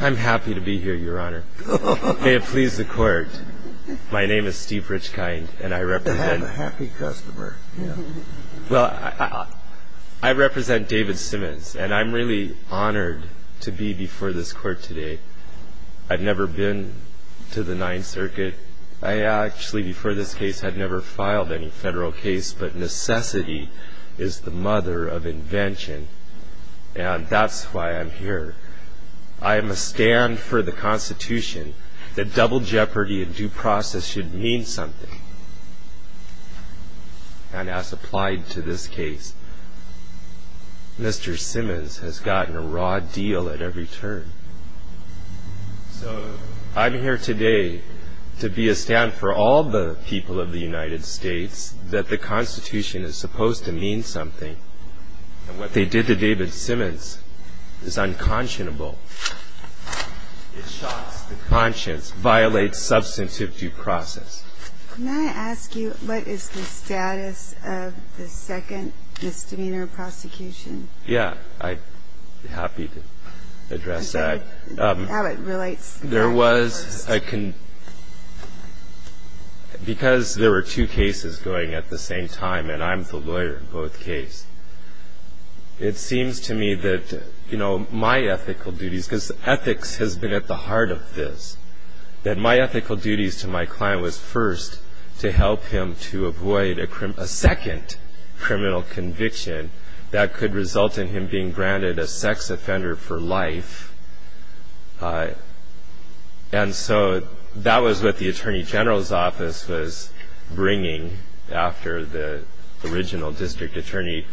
I'm happy to be here, Your Honor. May it please the Court, my name is Steve Richkind, and I represent... Have a happy customer, yeah. Well, I represent David Simmons, and I'm really honored to be before this Court today. I've never been to the Ninth Circuit. I actually, before this case, had never filed any federal case, but necessity is the mother of invention. And that's why I'm here. I am a stand for the Constitution, that double jeopardy and due process should mean something. And as applied to this case, Mr. Simmons has gotten a raw deal at every turn. So I'm here today to be a stand for all the people of the United States, that the Constitution is supposed to mean something. And what they did to David Simmons is unconscionable. It shocks the conscience, violates substantive due process. May I ask you what is the status of the second misdemeanor prosecution? Yeah, I'd be happy to address that. How it relates to the first. Because there were two cases going at the same time, and I'm the lawyer in both cases, it seems to me that my ethical duties, because ethics has been at the heart of this, that my ethical duties to my client was first to help him to avoid a second criminal conviction that could result in him being branded a sex offender for life. And so that was what the Attorney General's office was bringing after the original district attorney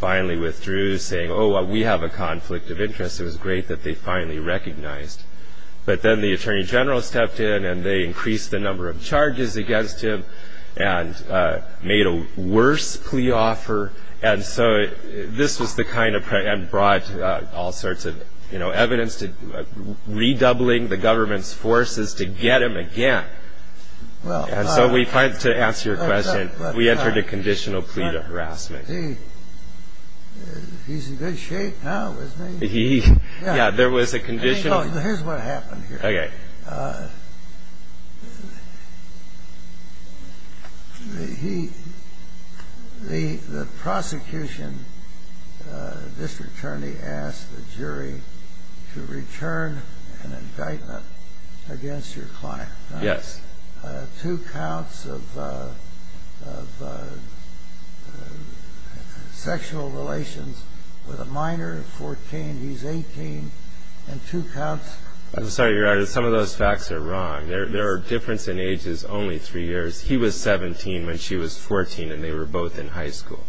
finally withdrew, saying, oh, we have a conflict of interest. It was great that they finally recognized. But then the Attorney General stepped in and they increased the number of charges against him and made a worse plea offer. And so this was the kind of thing that brought all sorts of evidence, redoubling the government's forces to get him again. And so to answer your question, we entered a conditional plea to harassment. He's in good shape now, isn't he? Yeah, there was a condition. Here's what happened here. Okay. The prosecution district attorney asked the jury to return an indictment against your client. Yes. Two counts of sexual relations with a minor, 14, he's 18, and two counts. I'm sorry, Your Honor, some of those facts are wrong. There are differences in ages, only three years. He was 17 when she was 14, and they were both in high school.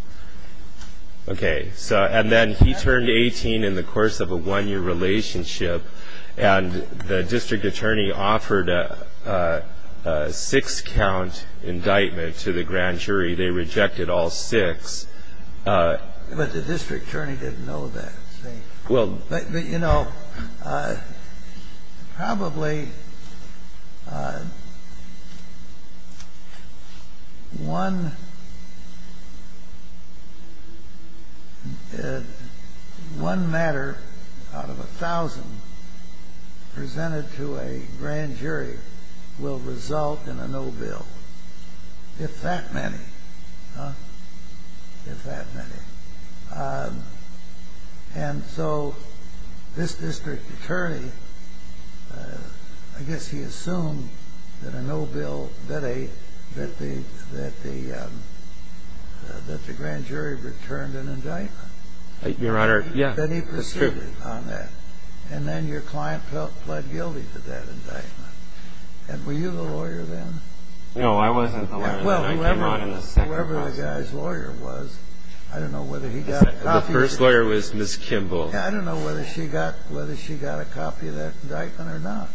Okay. And then he turned 18 in the course of a one-year relationship, and the district attorney offered a six-count indictment to the grand jury. They rejected all six. But the district attorney didn't know that. Well, you know, probably one matter out of a thousand presented to a grand jury will result in a no bill, if that many. Huh? If that many. And so this district attorney, I guess he assumed that a no bill, that the grand jury returned an indictment. Your Honor, yeah. That he proceeded on that. And then your client pled guilty to that indictment. And were you the lawyer then? No, I wasn't the lawyer. Well, whoever the guy's lawyer was, I don't know whether he got a copy. The first lawyer was Ms. Kimball. I don't know whether she got a copy of that indictment or not.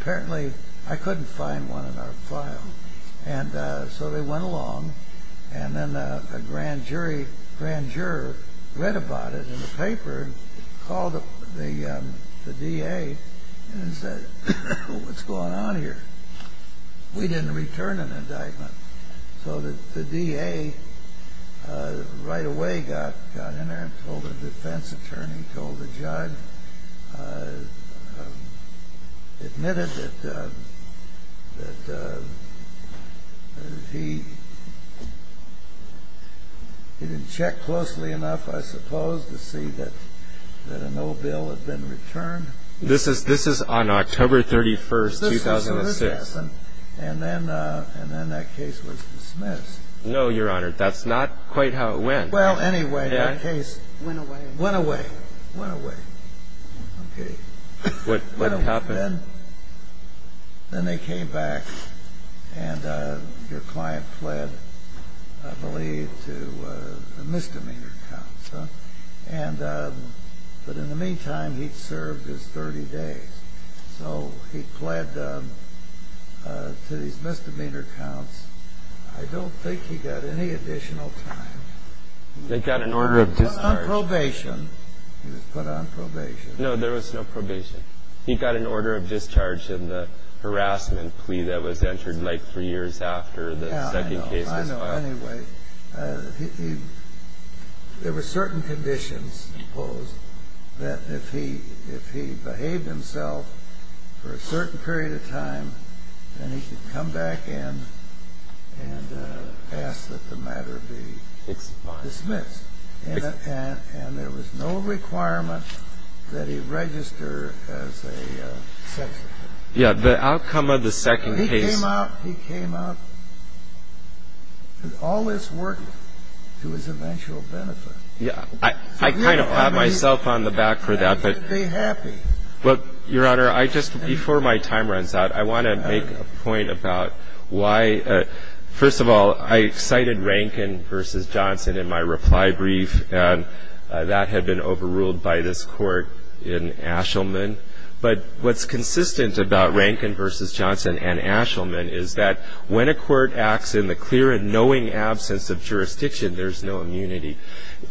Apparently, I couldn't find one in our file. And so they went along, and then a grand jury, grand juror read about it in the paper, called the DA and said, what's going on here? We didn't return an indictment. So the DA right away got in there and told the defense attorney, told the judge, admitted that he didn't check closely enough, I suppose, to see that a no bill had been returned. This is on October 31, 2006. And then that case was dismissed. No, Your Honor. That's not quite how it went. Well, anyway, that case went away. Went away. Went away. What happened? Then they came back, and your client pled, I believe, to a misdemeanor counsel. But in the meantime, he'd served his 30 days. So he pled to his misdemeanor counsel. I don't think he got any additional time. They got an order of discharge. He was put on probation. He was put on probation. No, there was no probation. He got an order of discharge in the harassment plea that was entered like three years after the second case was filed. I know. Anyway, there were certain conditions imposed that if he behaved himself for a certain period of time, then he could come back in and ask that the matter be dismissed. And there was no requirement that he register as a sex offender. Yeah, the outcome of the second case. He came up with all this work to his eventual benefit. Yeah. I kind of pat myself on the back for that. But, Your Honor, I just, before my time runs out, I want to make a point about why. First of all, I cited Rankin v. Johnson in my reply brief, and that had been overruled by this court in Ashelman. But what's consistent about Rankin v. Johnson and Ashelman is that when a court acts in the clear and knowing absence of jurisdiction, there's no immunity.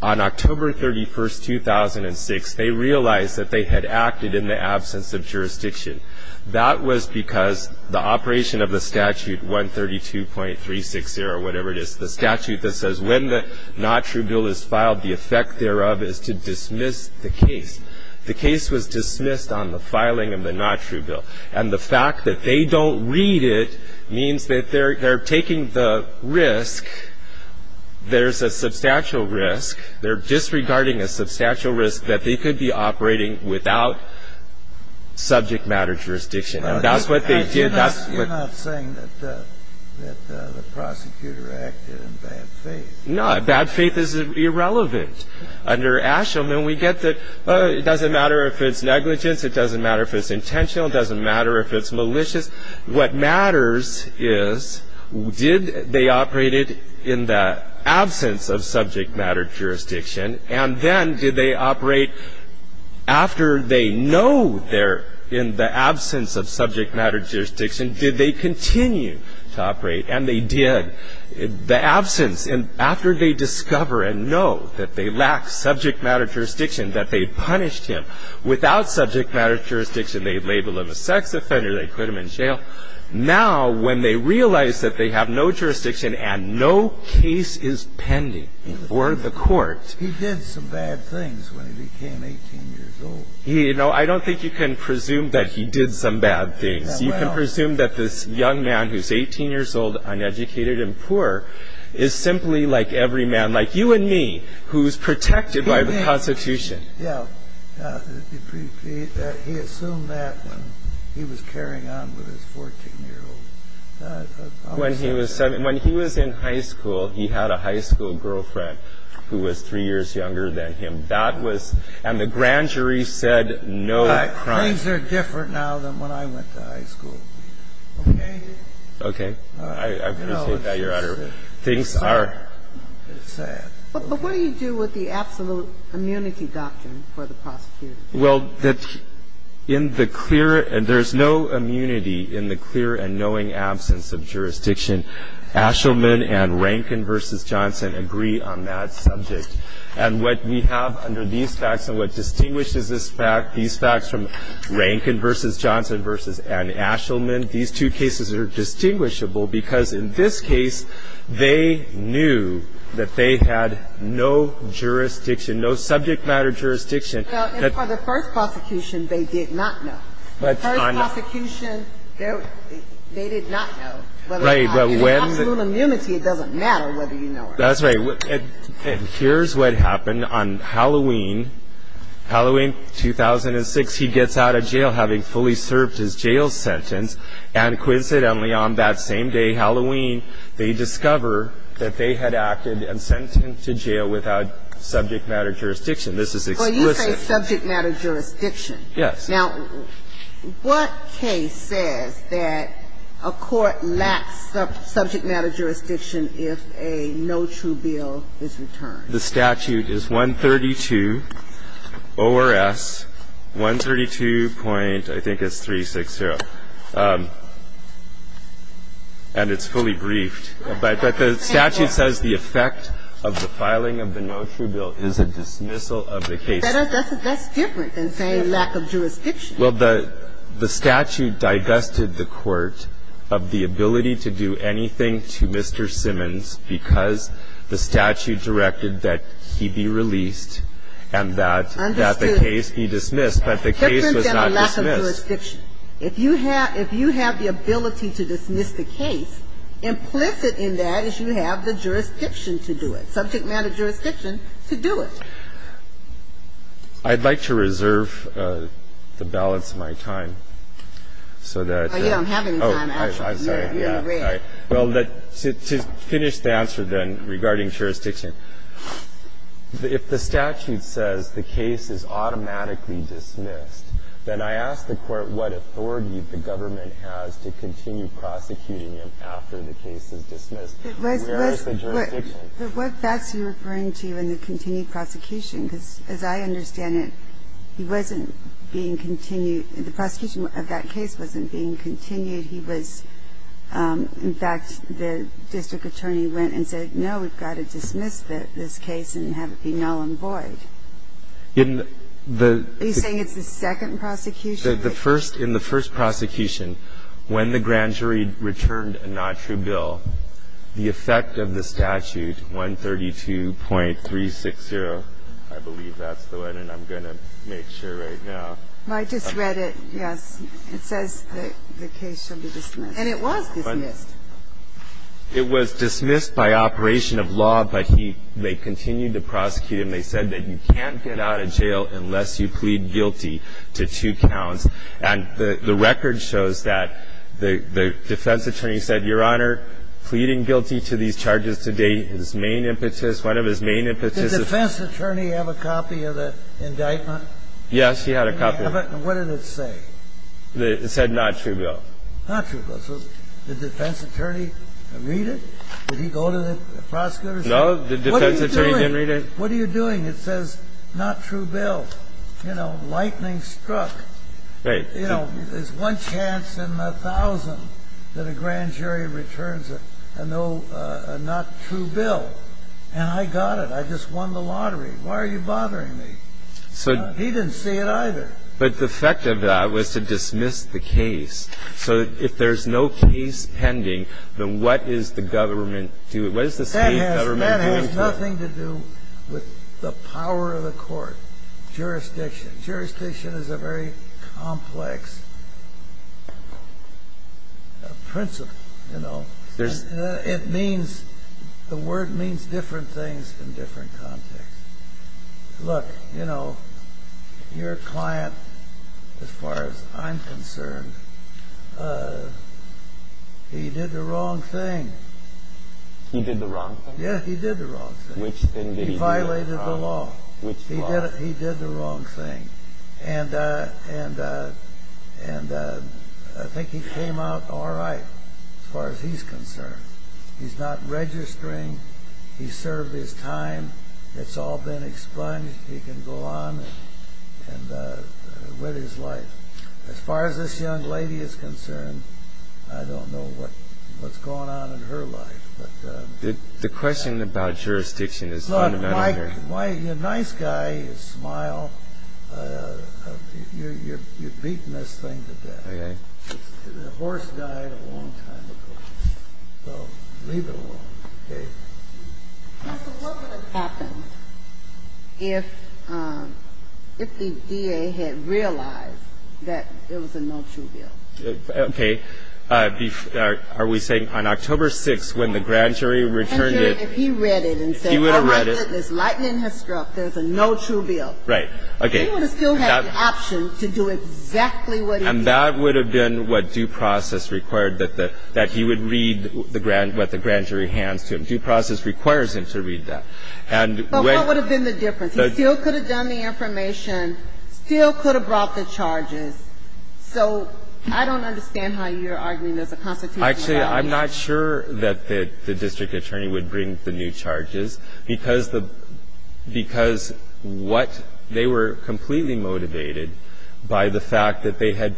On October 31, 2006, they realized that they had acted in the absence of jurisdiction. That was because the operation of the statute 132.360, whatever it is, the statute that says when the not true bill is filed, the effect thereof is to dismiss the case. The case was dismissed on the filing of the not true bill. And the fact that they don't read it means that they're taking the risk. There's a substantial risk. They're disregarding a substantial risk that they could be operating without subject matter jurisdiction. And that's what they did. You're not saying that the prosecutor acted in bad faith. No, bad faith is irrelevant. Under Ashelman, we get that it doesn't matter if it's negligence. It doesn't matter if it's intentional. It doesn't matter if it's malicious. What matters is did they operate it in the absence of subject matter jurisdiction, and then did they operate after they know they're in the absence of subject matter jurisdiction, did they continue to operate? And they did. The absence, after they discover and know that they lack subject matter jurisdiction, that they punished him. Without subject matter jurisdiction, they label him a sex offender, they put him in jail. Now, when they realize that they have no jurisdiction and no case is pending before the court. He did some bad things when he became 18 years old. You know, I don't think you can presume that he did some bad things. You can presume that this young man who's 18 years old, uneducated and poor, is simply like every man, like you and me, who's protected by the Constitution. Yeah. He assumed that when he was carrying on with his 14-year-old. When he was in high school, he had a high school girlfriend who was three years younger than him. That was, and the grand jury said no crime. He did a lot of bad things. He did a lot of bad things. Now, things are different now than when I went to high school. Okay? Okay. I appreciate that, Your Honor. Things are. It's sad. But what do you do with the absolute immunity doctrine for the prosecutors? Well, there's no immunity in the clear and knowing absence of jurisdiction. Ashelman and Rankin v. Johnson agree on that subject. And what we have under these facts and what distinguishes these facts from Rankin v. Johnson and Ashelman, these two cases are distinguishable because, in this case, they knew that they had no jurisdiction, no subject matter jurisdiction. And for the first prosecution, they did not know. The first prosecution, they did not know. Right. But when the absolute immunity, it doesn't matter whether you know it. That's right. And here's what happened. On Halloween 2006, he gets out of jail, having fully served his jail sentence. And coincidentally, on that same day, Halloween, they discover that they had acted and sent him to jail without subject matter jurisdiction. This is explicit. Well, you say subject matter jurisdiction. Yes. Now, what case says that a court lacks subject matter jurisdiction if a no true bill is returned? The statute is 132 ORS, 132 point, I think it's 360. And it's fully briefed. But the statute says the effect of the filing of the no true bill is a dismissal of the case. That's different than saying lack of jurisdiction. Well, the statute digested the court of the ability to do anything to Mr. Simmons because the statute directed that he be released and that the case be dismissed. But the case was not dismissed. Different than a lack of jurisdiction. If you have the ability to dismiss the case, implicit in that is you have the jurisdiction to do it, subject matter jurisdiction to do it. I'd like to reserve the balance of my time so that you can read. Well, to finish the answer then regarding jurisdiction, if the statute says the case is automatically dismissed, then I ask the court what authority the government has to continue prosecuting him after the case is dismissed. Where is the jurisdiction? But what facts are you referring to in the continued prosecution? Because as I understand it, he wasn't being continued. The prosecution of that case wasn't being continued. He was, in fact, the district attorney went and said, no, we've got to dismiss this case and have it be null and void. Are you saying it's the second prosecution? In the first prosecution, when the grand jury returned a not true bill, the effect of the statute, 132.360, I believe that's the one, and I'm going to make sure right now. I just read it. Yes. It says the case shall be dismissed. And it was dismissed. It was dismissed by operation of law, but he may continue to prosecute him. They said that you can't get out of jail unless you plead guilty to two counts. And the record shows that the defense attorney said, Your Honor, pleading guilty to these charges to date, his main impetus, one of his main impetus. Did the defense attorney have a copy of the indictment? Yes, he had a copy. What did it say? It said not true bill. Not true bill. So did the defense attorney read it? Did he go to the prosecutor's office? No, the defense attorney didn't read it. What are you doing? It says not true bill. You know, lightning struck. Right. You know, there's one chance in a thousand that a grand jury returns a not true bill. And I got it. I just won the lottery. Why are you bothering me? He didn't see it either. But the effect of that was to dismiss the case. So if there's no case pending, then what is the government doing? What is the State government doing? That has nothing to do with the power of the court. Jurisdiction. Jurisdiction is a very complex principle, you know. It means the word means different things in different contexts. Look, you know, your client, as far as I'm concerned, he did the wrong thing. He did the wrong thing? Yeah, he did the wrong thing. Which thing did he do? He violated the law. Which law? He did the wrong thing. And I think he came out all right as far as he's concerned. He's not registering. He served his time. It's all been explained. He can go on with his life. As far as this young lady is concerned, I don't know what's going on in her life. The question about jurisdiction is fundamental here. Look, you're a nice guy. You smile. You've beaten this thing to death. The horse died a long time ago. So leave it alone, okay? So what would have happened if the DA had realized that there was a no true bill? Okay. Are we saying on October 6th when the grand jury returned it? If he read it and said, all right, goodness, lightning has struck, there's a no true bill. Right. Okay. He would have still had the option to do exactly what he did. And that would have been what due process required, that he would read what the grand jury hands to him. Due process requires him to read that. But what would have been the difference? He still could have done the information, still could have brought the charges. So I don't understand how you're arguing there's a constitutional obligation. Actually, I'm not sure that the district attorney would bring the new charges, because what they were completely motivated by the fact that they had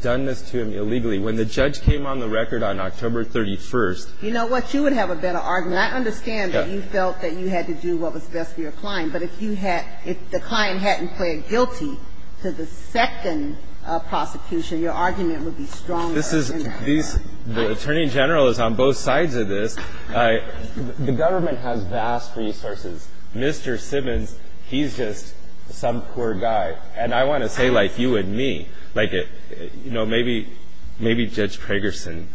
done this to him illegally. When the judge came on the record on October 31st. You know what? You would have a better argument. I understand that you felt that you had to do what was best for your client. But if you had, if the client hadn't pled guilty to the second prosecution, your argument would be stronger. This is, the attorney general is on both sides of this. The government has vast resources. Mr. Simmons, he's just some poor guy. And I want to say, like, you and me, like, you know, maybe Judge Pragerson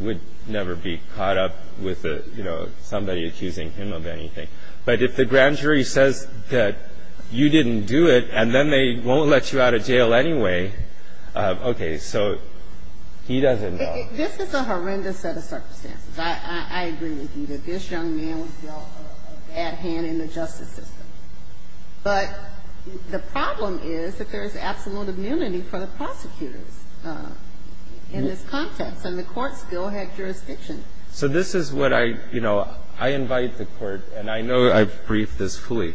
would never be caught up with, you know, somebody accusing him of anything. But if the grand jury says that you didn't do it, and then they won't let you out of jail anyway, okay, so he doesn't know. This is a horrendous set of circumstances. I agree with you that this young man was dealt a bad hand in the justice system. But the problem is that there is absolute immunity for the prosecutors in this context. And the Court still had jurisdiction. So this is what I, you know, I invite the Court, and I know I've briefed this fully,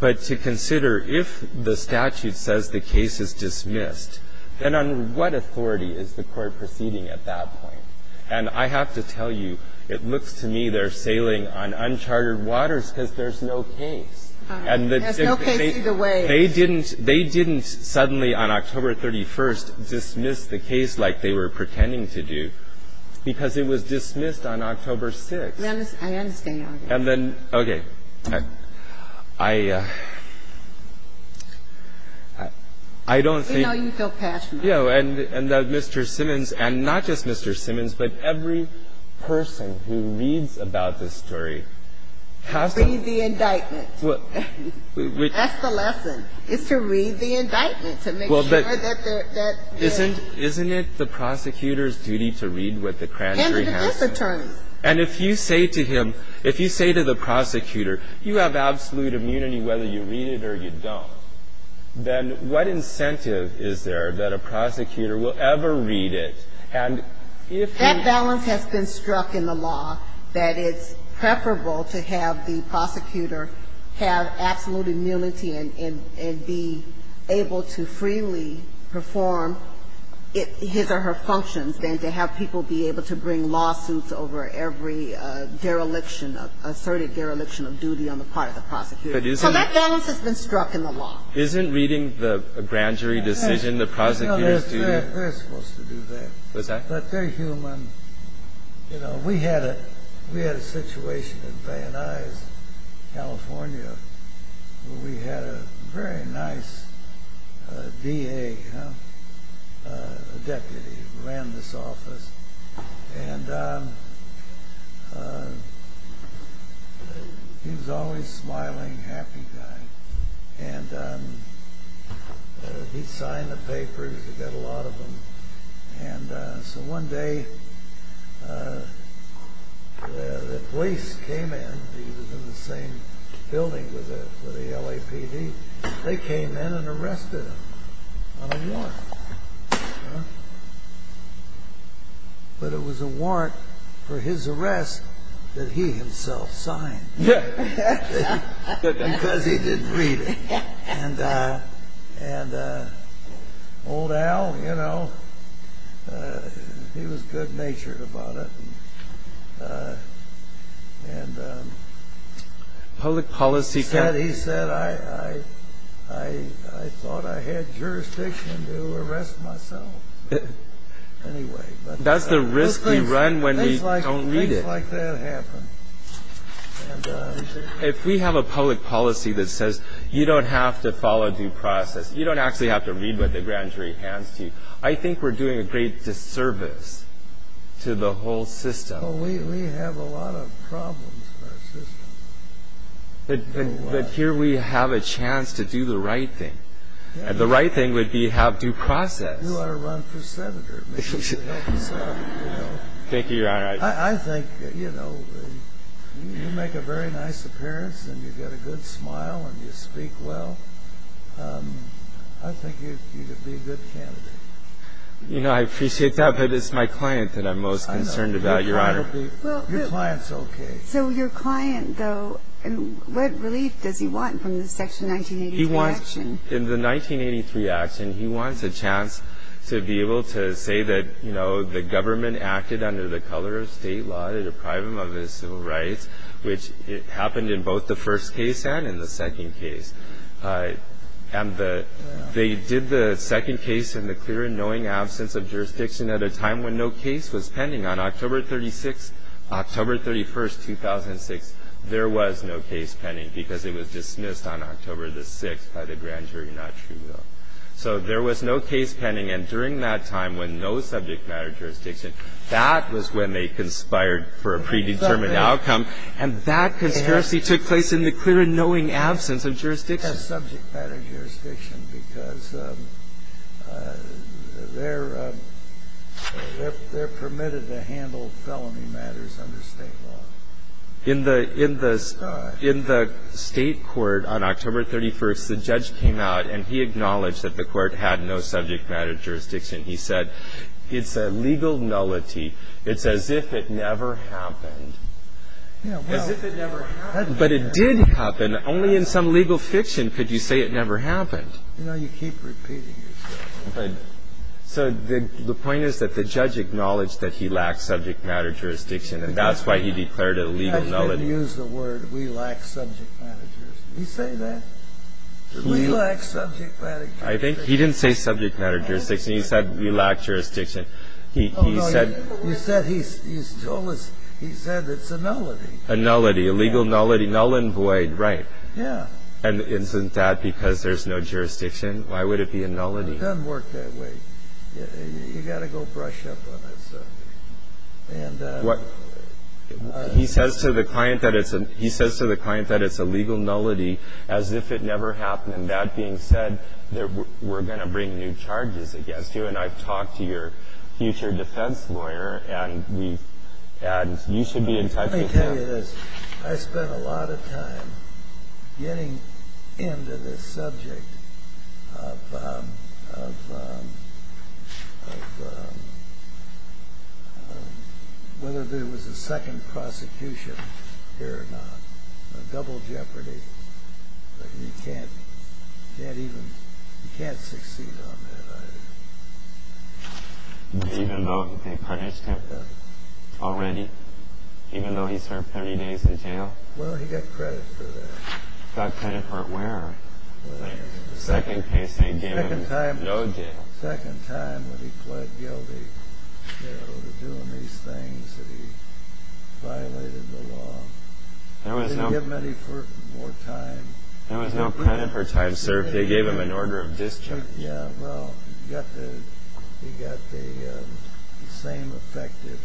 but to consider if the statute says the case is dismissed, then on what authority is the Court proceeding at that point? And I have to tell you, it looks to me they're sailing on uncharted waters because there's no case. There's no case either way. They didn't suddenly on October 31st dismiss the case like they were pretending to do because it was dismissed on October 6th. I understand. And then, okay, I don't think. You know, you feel passionate. Yeah, and Mr. Simmons, and not just Mr. Simmons, but every person who reads about this story has to. Read the indictment. That's the lesson, is to read the indictment to make sure that they're. Isn't it the prosecutor's duty to read what the grand jury has to say? And the defense attorney. And if you say to him, if you say to the prosecutor, you have absolute immunity whether you read it or you don't, then what incentive is there that a prosecutor will ever read it? And if. That balance has been struck in the law, that it's preferable to have the prosecutor have absolute immunity and be able to freely perform his or her functions than to have people be able to bring lawsuits over every dereliction of, asserted dereliction of duty on the part of the prosecutor. So that balance has been struck in the law. Isn't reading the grand jury decision the prosecutor's duty? They're supposed to do that. But they're human. You know, we had a situation in Van Nuys, California, where we had a very nice DA, a deputy who ran this office. And he was always a smiling, happy guy. And he signed the papers. He got a lot of them. And so one day the police came in. He was in the same building with the LAPD. They came in and arrested him on a warrant. But it was a warrant for his arrest that he himself signed. Because he didn't read it. And old Al, you know, he was good-natured about it. And he said, he said, I thought I had jurisdiction to arrest myself. Anyway. That's the risk we run when we don't read it. Things like that happen. If we have a public policy that says you don't have to follow due process, you don't actually have to read what the grand jury hands to you, I think we're doing a great disservice to the whole system. We have a lot of problems in our system. But here we have a chance to do the right thing. And the right thing would be to have due process. You ought to run for senator. Thank you, Your Honor. I think, you know, you make a very nice appearance, and you've got a good smile, and you speak well. I think you'd be a good candidate. You know, I appreciate that. But it's my client that I'm most concerned about, Your Honor. Your client's okay. So your client, though, what relief does he want from the Section 1983 action? In the 1983 action, he wants a chance to be able to say that, you know, the government acted under the color of state law to deprive him of his civil rights, which happened in both the first case and in the second case. And they did the second case in the clear and knowing absence of jurisdiction at a time when no case was pending. On October 31, 2006, there was no case pending because it was dismissed on October the 6th by the grand jury, not true, though. So there was no case pending. And during that time when no subject matter jurisdiction, that was when they conspired for a predetermined outcome. And that conspiracy took place in the clear and knowing absence of jurisdiction. They had subject matter jurisdiction because they're permitted to handle felony matters under state law. In the state court on October 31, the judge came out, and he acknowledged that the court had no subject matter jurisdiction. He said, it's a legal nullity. It's as if it never happened. As if it never happened. But it did happen. Only in some legal fiction could you say it never happened. You know, you keep repeating yourself. So the point is that the judge acknowledged that he lacked subject matter jurisdiction, and that's why he declared it a legal nullity. I didn't use the word we lacked subject matter jurisdiction. Did he say that? We lacked subject matter jurisdiction. He didn't say subject matter jurisdiction. He said we lacked jurisdiction. He said it's a nullity. A nullity. A legal nullity. Null and void. Right. And isn't that because there's no jurisdiction? Why would it be a nullity? It doesn't work that way. You've got to go brush up on it. He says to the client that it's a legal nullity as if it never happened. And that being said, we're going to bring new charges against you. And I've talked to your future defense lawyer, and you should be entitled to that. Let me tell you this. I spent a lot of time getting into this subject of whether there was a second prosecution here or not, a double jeopardy, that you can't succeed on that either. Even though they punished him already? Even though he served 30 days in jail? Well, he got credit for that. Got credit for where? The second case they gave him no jail. The second time when he pled guilty to doing these things that he violated the law. They didn't give him any more time. There was no credit for time served. They gave him an order of discharge. Yeah, well, he got the same effective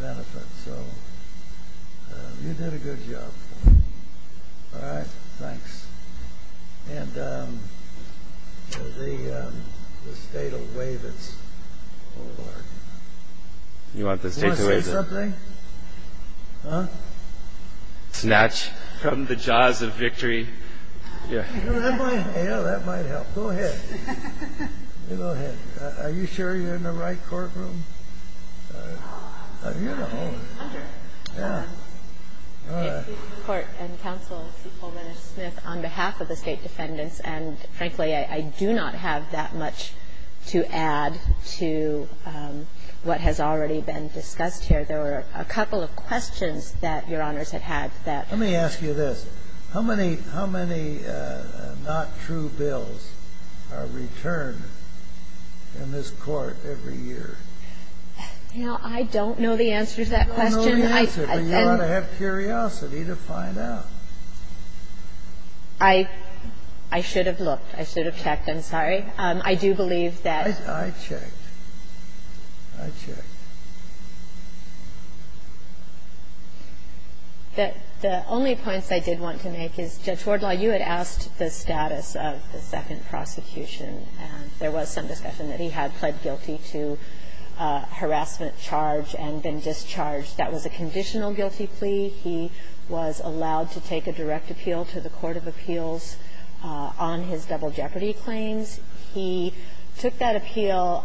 benefit. So you did a good job. All right, thanks. And the state will waive its award. You want the state to waive it? You want to say something? Huh? Snatch from the jaws of victory. Yeah, that might help. Go ahead. Go ahead. Are you sure you're in the right courtroom? You know. I'm sure. Yeah. All right. Court and counsel, Paul Renish-Smith, on behalf of the state defendants, and frankly, I do not have that much to add to what has already been discussed here. There were a couple of questions that Your Honors had had that. Let me ask you this. How many not true bills are returned in this court every year? You know, I don't know the answer to that question. You don't know the answer, but you ought to have curiosity to find out. I should have looked. I should have checked. I'm sorry. I do believe that. I checked. I checked. The only points I did want to make is Judge Wardlaw, you had asked the status of the second prosecution. There was some discussion that he had pled guilty to harassment charge and been discharged. That was a conditional guilty plea. He was allowed to take a direct appeal to the court of appeals on his double jeopardy claims. He took that appeal,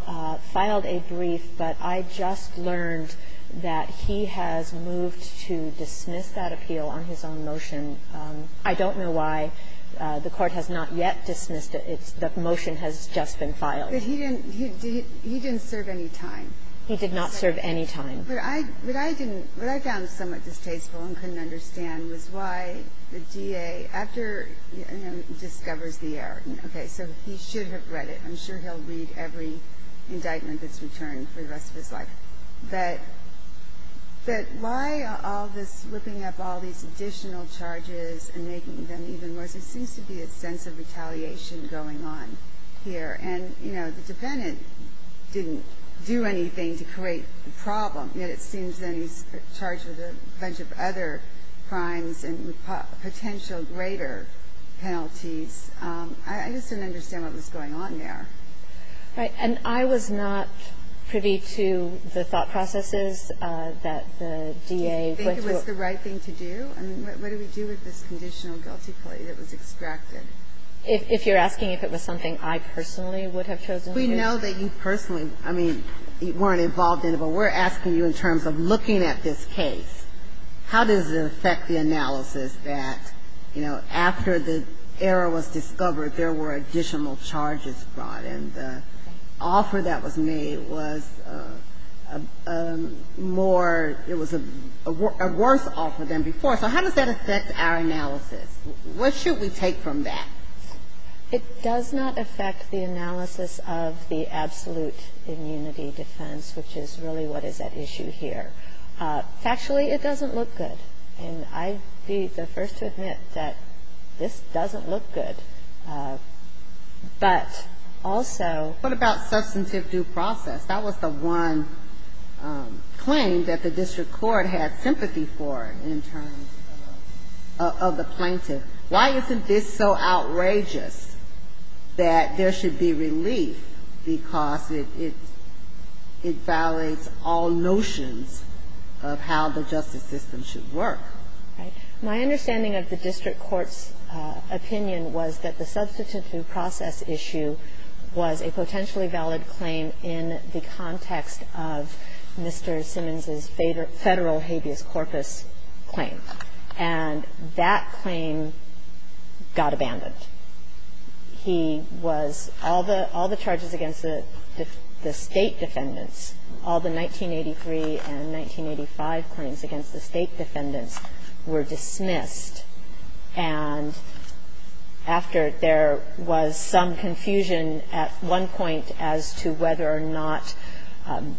filed a brief, but I just learned that he has moved to dismiss that appeal on his own motion. I don't know why the court has not yet dismissed it. The motion has just been filed. But he didn't serve any time. He did not serve any time. But I didn't – what I found somewhat distasteful and couldn't understand was why the DA, you know, discovers the error. Okay. So he should have read it. I'm sure he'll read every indictment that's returned for the rest of his life. But why all this whipping up all these additional charges and making them even worse? There seems to be a sense of retaliation going on here. And, you know, the defendant didn't do anything to create the problem, yet it seems then he's charged with a bunch of other crimes and potential greater penalties. I just didn't understand what was going on there. Right. And I was not privy to the thought processes that the DA went to. Do you think it was the right thing to do? I mean, what do we do with this conditional guilty plea that was extracted? If you're asking if it was something I personally would have chosen to do? We know that you personally, I mean, weren't involved in it, but we're asking you in terms of looking at this case, how does it affect the analysis that, you know, after the error was discovered there were additional charges brought and the offer that was made was more, it was a worse offer than before. So how does that affect our analysis? What should we take from that? It does not affect the analysis of the absolute immunity defense, which is really what is at issue here. Factually, it doesn't look good. And I'd be the first to admit that this doesn't look good. But also ---- What about substantive due process? That was the one claim that the district court had sympathy for in terms of the plaintiff. Why isn't this so outrageous that there should be relief because it violates all notions of how the justice system should work? Right. My understanding of the district court's opinion was that the substantive due process issue was a potentially valid claim in the context of Mr. Simmons's Federal habeas corpus claim. And that claim got abandoned. He was ---- all the charges against the State defendants, all the 1983 and 1985 claims against the State defendants were dismissed. And after there was some confusion at one point as to whether or not ----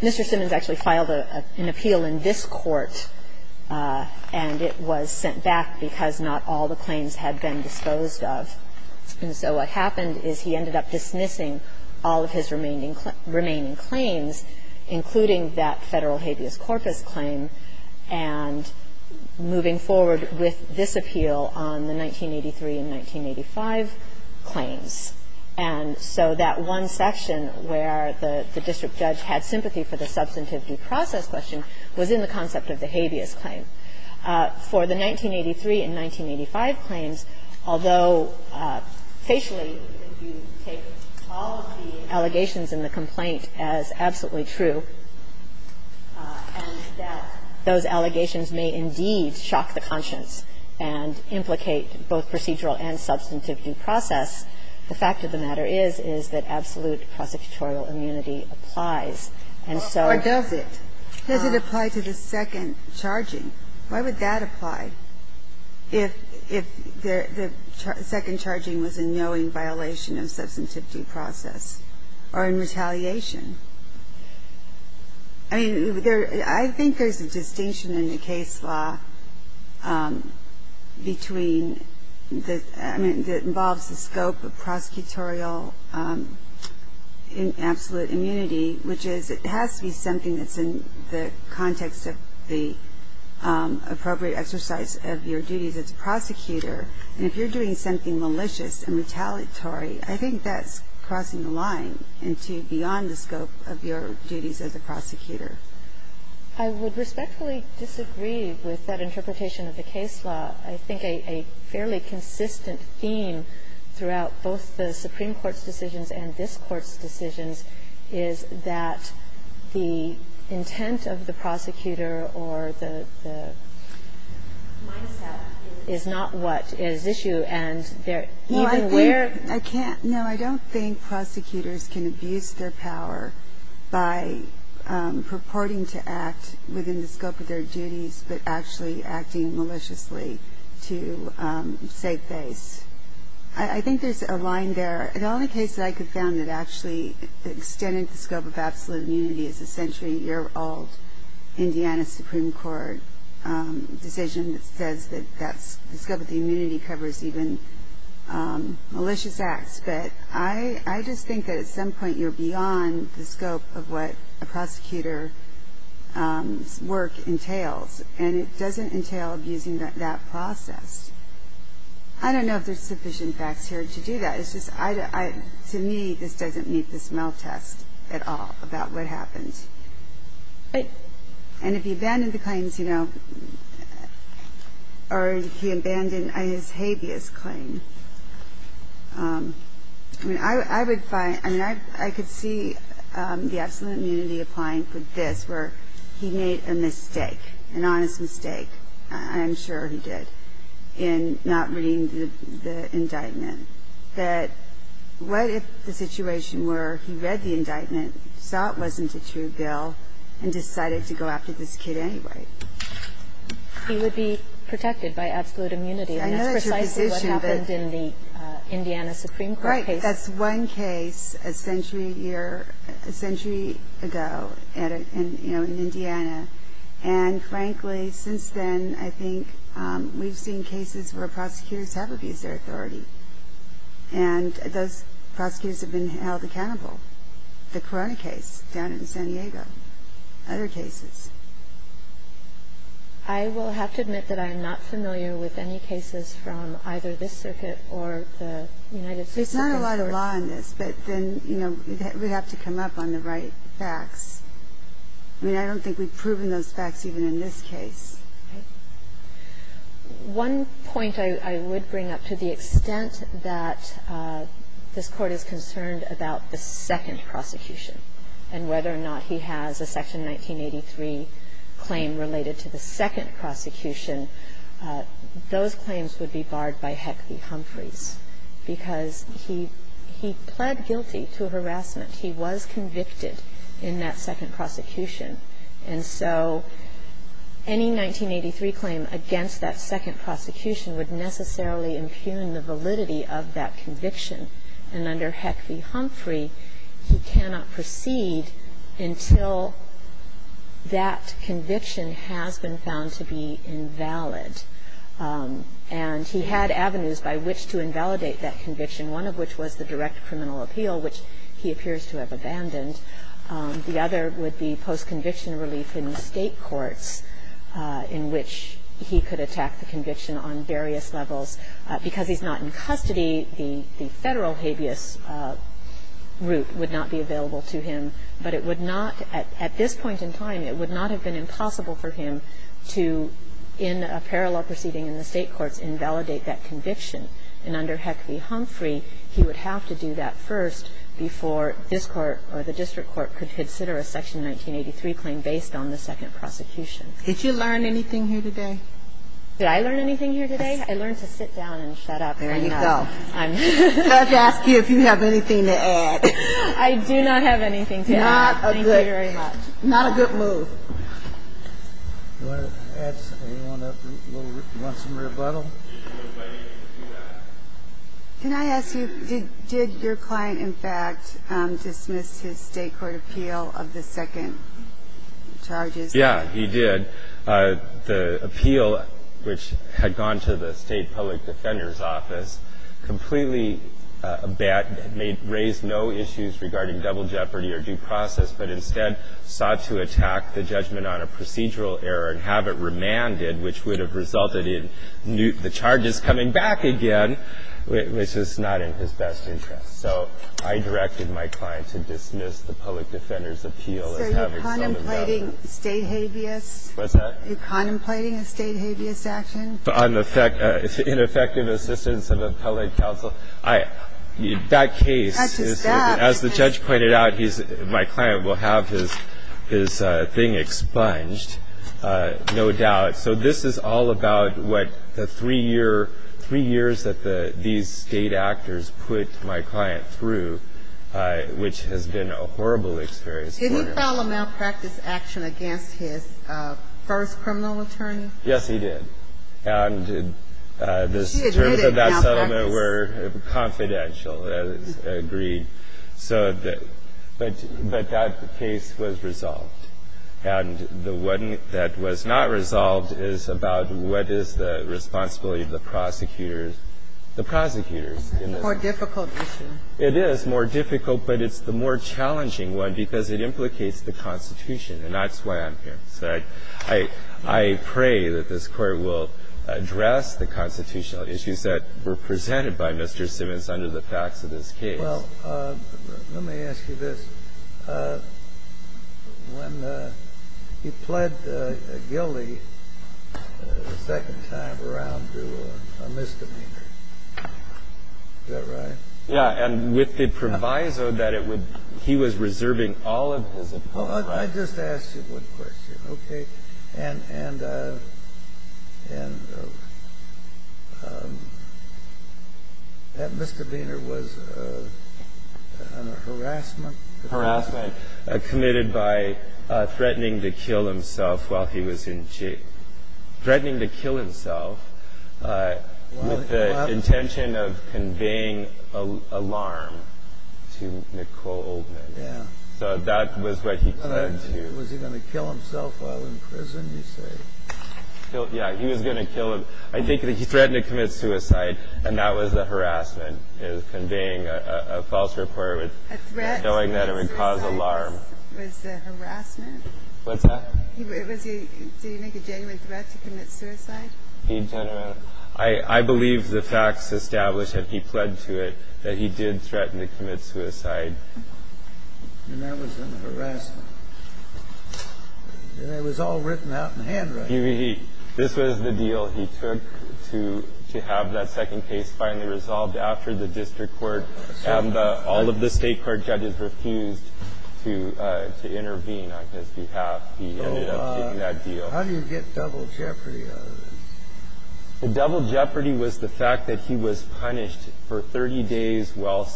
Mr. Simmons actually filed an appeal in this court, and it was sent back because not all the claims had been disposed of. And so what happened is he ended up dismissing all of his remaining claims, including that Federal habeas corpus claim, and moving forward with this appeal on the 1983 and 1985 claims. And so that one section where the district judge had sympathy for the substantive due process question was in the concept of the habeas claim. For the 1983 and 1985 claims, although facially you take all of the allegations in the complaint as absolutely true, and that those allegations may indeed shock the conscience and implicate both procedural and substantive due process, the fact of the matter is, is that absolute prosecutorial immunity applies. And so ---- Ginsburg. Or does it? Does it apply to the second charging? Why would that apply if the second charging was a knowing violation of substantive due process or in retaliation? I mean, I think there's a distinction in the case law between the ---- I mean, that involves the scope of prosecutorial absolute immunity, which is it has to be something that's in the context of the appropriate exercise of your duties as a prosecutor. And if you're doing something malicious and retaliatory, I think that's crossing the line into beyond the scope of your duties as a prosecutor. I would respectfully disagree with that interpretation of the case law. I think a fairly consistent theme throughout both the Supreme Court's decisions and this Court's decisions is that the intent of the prosecutor or the ---- is not what is issue. And even where ---- I can't ---- no, I don't think prosecutors can abuse their power by purporting to act within the scope of their duties, but actually acting maliciously to save face. I think there's a line there. The only case that I could found that actually extended the scope of absolute immunity is a century-year-old Indiana Supreme Court decision that says that that the scope of the immunity covers even malicious acts. But I just think that at some point you're beyond the scope of what a prosecutor's work entails. And it doesn't entail abusing that process. I don't know if there's sufficient facts here to do that. It's just I don't ---- to me, this doesn't meet the smell test at all about what happened. And if he abandoned the claims, you know, or he abandoned his habeas claim, I mean, I would find ---- I mean, I could see the absolute immunity applying for this, where he made a mistake, an honest mistake, I'm sure he did, in not reading the indictment, that what if the situation were he read the indictment, saw it wasn't a true bill, and decided to go after this kid anyway? He would be protected by absolute immunity. And that's precisely what happened in the Indiana Supreme Court case. Right. That's one case a century-year ---- a century ago at a ---- you know, in Indiana. And frankly, since then, I think we've seen cases where prosecutors have abused their authority. And those prosecutors have been held accountable. The Corona case down in San Diego, other cases. I will have to admit that I am not familiar with any cases from either this circuit or the United States Circuit. There's not a lot of law in this, but then, you know, we have to come up on the right facts. I mean, I don't think we've proven those facts even in this case. One point I would bring up, to the extent that this Court is concerned about the second prosecution and whether or not he has a Section 1983 claim related to the second prosecution, those claims would be barred by Heck v. Humphreys, because he pled guilty to harassment. He was convicted in that second prosecution. And so any 1983 claim against that second prosecution would necessarily impugn the validity of that conviction. And under Heck v. Humphrey, he cannot proceed until that conviction has been found to be invalid. And he had avenues by which to invalidate that conviction, one of which was the direct criminal appeal, which he appears to have abandoned. The other would be post-conviction relief in the State courts in which he could attack the conviction on various levels. Because he's not in custody, the Federal habeas route would not be available to him. But it would not at this point in time, it would not have been impossible for him to, in a parallel proceeding in the State courts, invalidate that conviction. And under Heck v. Humphrey, he would have to do that first before this Court or the district court could consider a Section 1983 claim based on the second prosecution. Did you learn anything here today? Did I learn anything here today? I learned to sit down and shut up. There you go. Let's ask you if you have anything to add. I do not have anything to add. Thank you very much. Not a good move. Do you want to add something? Do you want some rebuttal? Can I ask you, did your client, in fact, dismiss his State court appeal of the second charges? Yeah, he did. The appeal, which had gone to the State public defender's office, completely raised no issues regarding double jeopardy or due process, but instead sought to attack the judgment on a procedural error and have it remanded, which would have resulted in the charges coming back again, which was not in his best interest. So I directed my client to dismiss the public defender's appeal and have it summed up. So you're contemplating State habeas? What's that? You're contemplating a State habeas action? On the ineffective assistance of appellate counsel. That case is that, as the judge pointed out, my client will have his things expunged, no doubt. So this is all about what the three years that these State actors put my client through, which has been a horrible experience for him. Did he file a malpractice action against his first criminal attorney? Yes, he did. And the terms of that settlement were confidential, agreed. So the – but that case was resolved. And the one that was not resolved is about what is the responsibility of the prosecutors – the prosecutors. It's a more difficult issue. It is more difficult, but it's the more challenging one because it implicates the Constitution. And that's why I'm here. So I pray that this Court will address the constitutional issues that were presented by Mr. Simmons under the facts of this case. Well, let me ask you this. When he pled guilty the second time around to a misdemeanor, is that right? Yeah. And with the proviso that it would – he was reserving all of his appellate rights. Oh, I just asked you one question. Okay. And that misdemeanor was a harassment. Harassment committed by threatening to kill himself while he was in jail. Threatening to kill himself with the intention of conveying alarm to Nicole Oldman. Yeah. So that was what he tried to – Was he going to kill himself while in prison, you say? Yeah. He was going to kill him. I think that he threatened to commit suicide, and that was a harassment, conveying a false report with – A threat to commit suicide was a harassment? What's that? Was he – did he make a genuine threat to commit suicide? He – I believe the facts establish that he pled to it, that he did threaten to commit suicide. And that was a harassment. And it was all written out in handwriting. He – this was the deal he took to have that second case finally resolved after the district court and all of the state court judges refused to intervene on his behalf. He ended up getting that deal. How do you get double jeopardy out of this? The double jeopardy was the fact that he was punished for 30 days while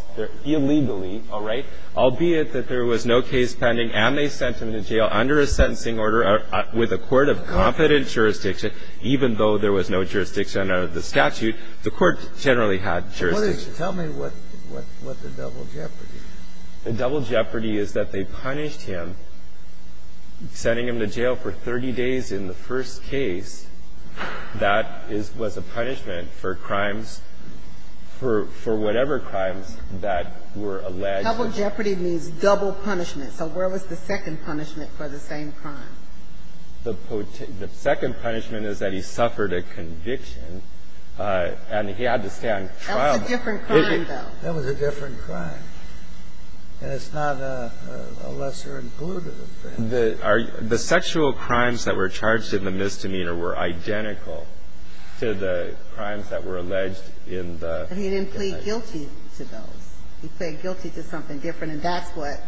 illegally, all right, albeit that there was no case pending, and they sent him to jail under a sentencing order with a court of competent jurisdiction, even though there was no jurisdiction under the statute. The court generally had jurisdiction. Tell me what the double jeopardy is. The double jeopardy is that they punished him, sending him to jail for 30 days in the first case. That was a punishment for crimes, for whatever crimes that were alleged. Double jeopardy means double punishment. So where was the second punishment for the same crime? The second punishment is that he suffered a conviction, and he had to stay on trial. That was a different crime, though. That was a different crime. And it's not a lesser included offense. The sexual crimes that were charged in the misdemeanor were identical to the crimes that were alleged in the... And he didn't plead guilty to those. He pleaded guilty to something different, and that's what...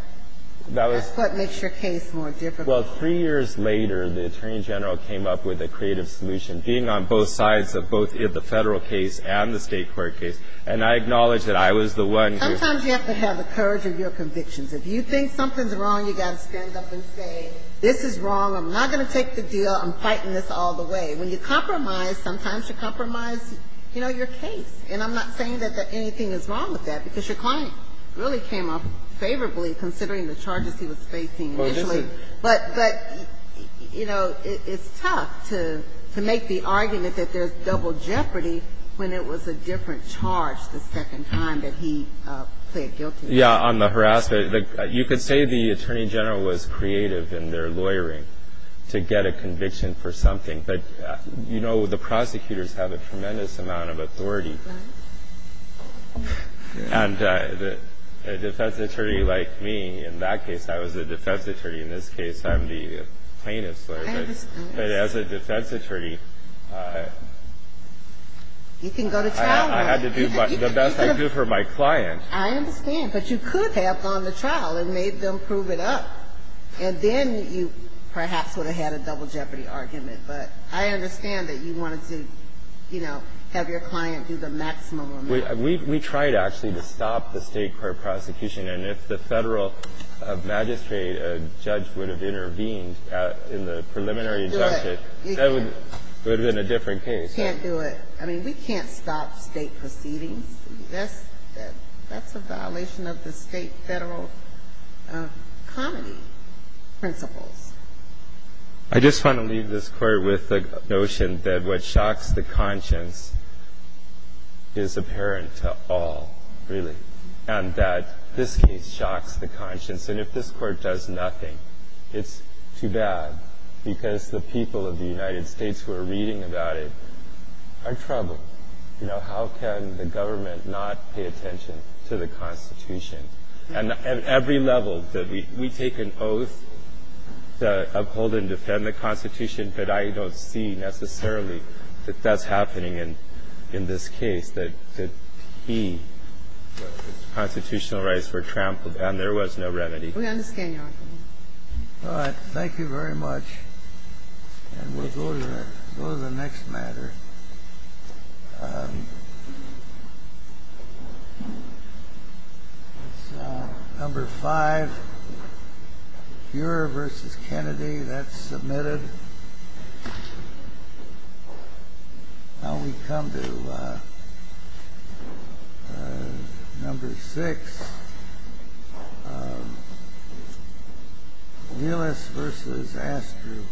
That was... That's what makes your case more difficult. Well, three years later, the Attorney General came up with a creative solution, being on both sides of both the Federal case and the State court case. And I acknowledge that I was the one who... Sometimes you have to have the courage of your convictions. If you think something's wrong, you've got to stand up and say, this is wrong. I'm not going to take the deal. I'm fighting this all the way. When you compromise, sometimes you compromise, you know, your case. And I'm not saying that anything is wrong with that, because your client really came up favorably considering the charges he was facing initially. But, you know, it's tough to make the argument that there's double jeopardy when it was a different charge the second time that he pleaded guilty. Yeah, on the harassment. You could say the Attorney General was creative in their lawyering to get a conviction for something. But, you know, the prosecutors have a tremendous amount of authority. And a defense attorney like me, in that case, I was a defense attorney. In this case, I'm the plaintiff's lawyer. But as a defense attorney... You can go to trial. I had to do the best I could for my client. I understand. But you could have gone to trial and made them prove it up. And then you perhaps would have had a double jeopardy argument. But I understand that you wanted to, you know, have your client do the maximum amount. We tried, actually, to stop the State court prosecution. And if the Federal magistrate judge would have intervened in the preliminary injunction, that would have been a different case. You can't do it. I mean, we can't stop State proceedings. That's a violation of the State Federal comedy principles. I just want to leave this court with the notion that what shocks the conscience is apparent to all, really. And that this case shocks the conscience. And if this court does nothing, it's too bad. Because the people of the United States who are reading about it are troubled. And so, you know, how can the government not pay attention to the Constitution? And at every level, we take an oath to uphold and defend the Constitution, but I don't see necessarily that that's happening in this case, that the constitutional rights were trampled and there was no remedy. We understand your argument. All right. Thank you very much. And we'll go to the next matter. Number five, Buehrer v. Kennedy. That's submitted. Now we come to number six, Willis v. Astor.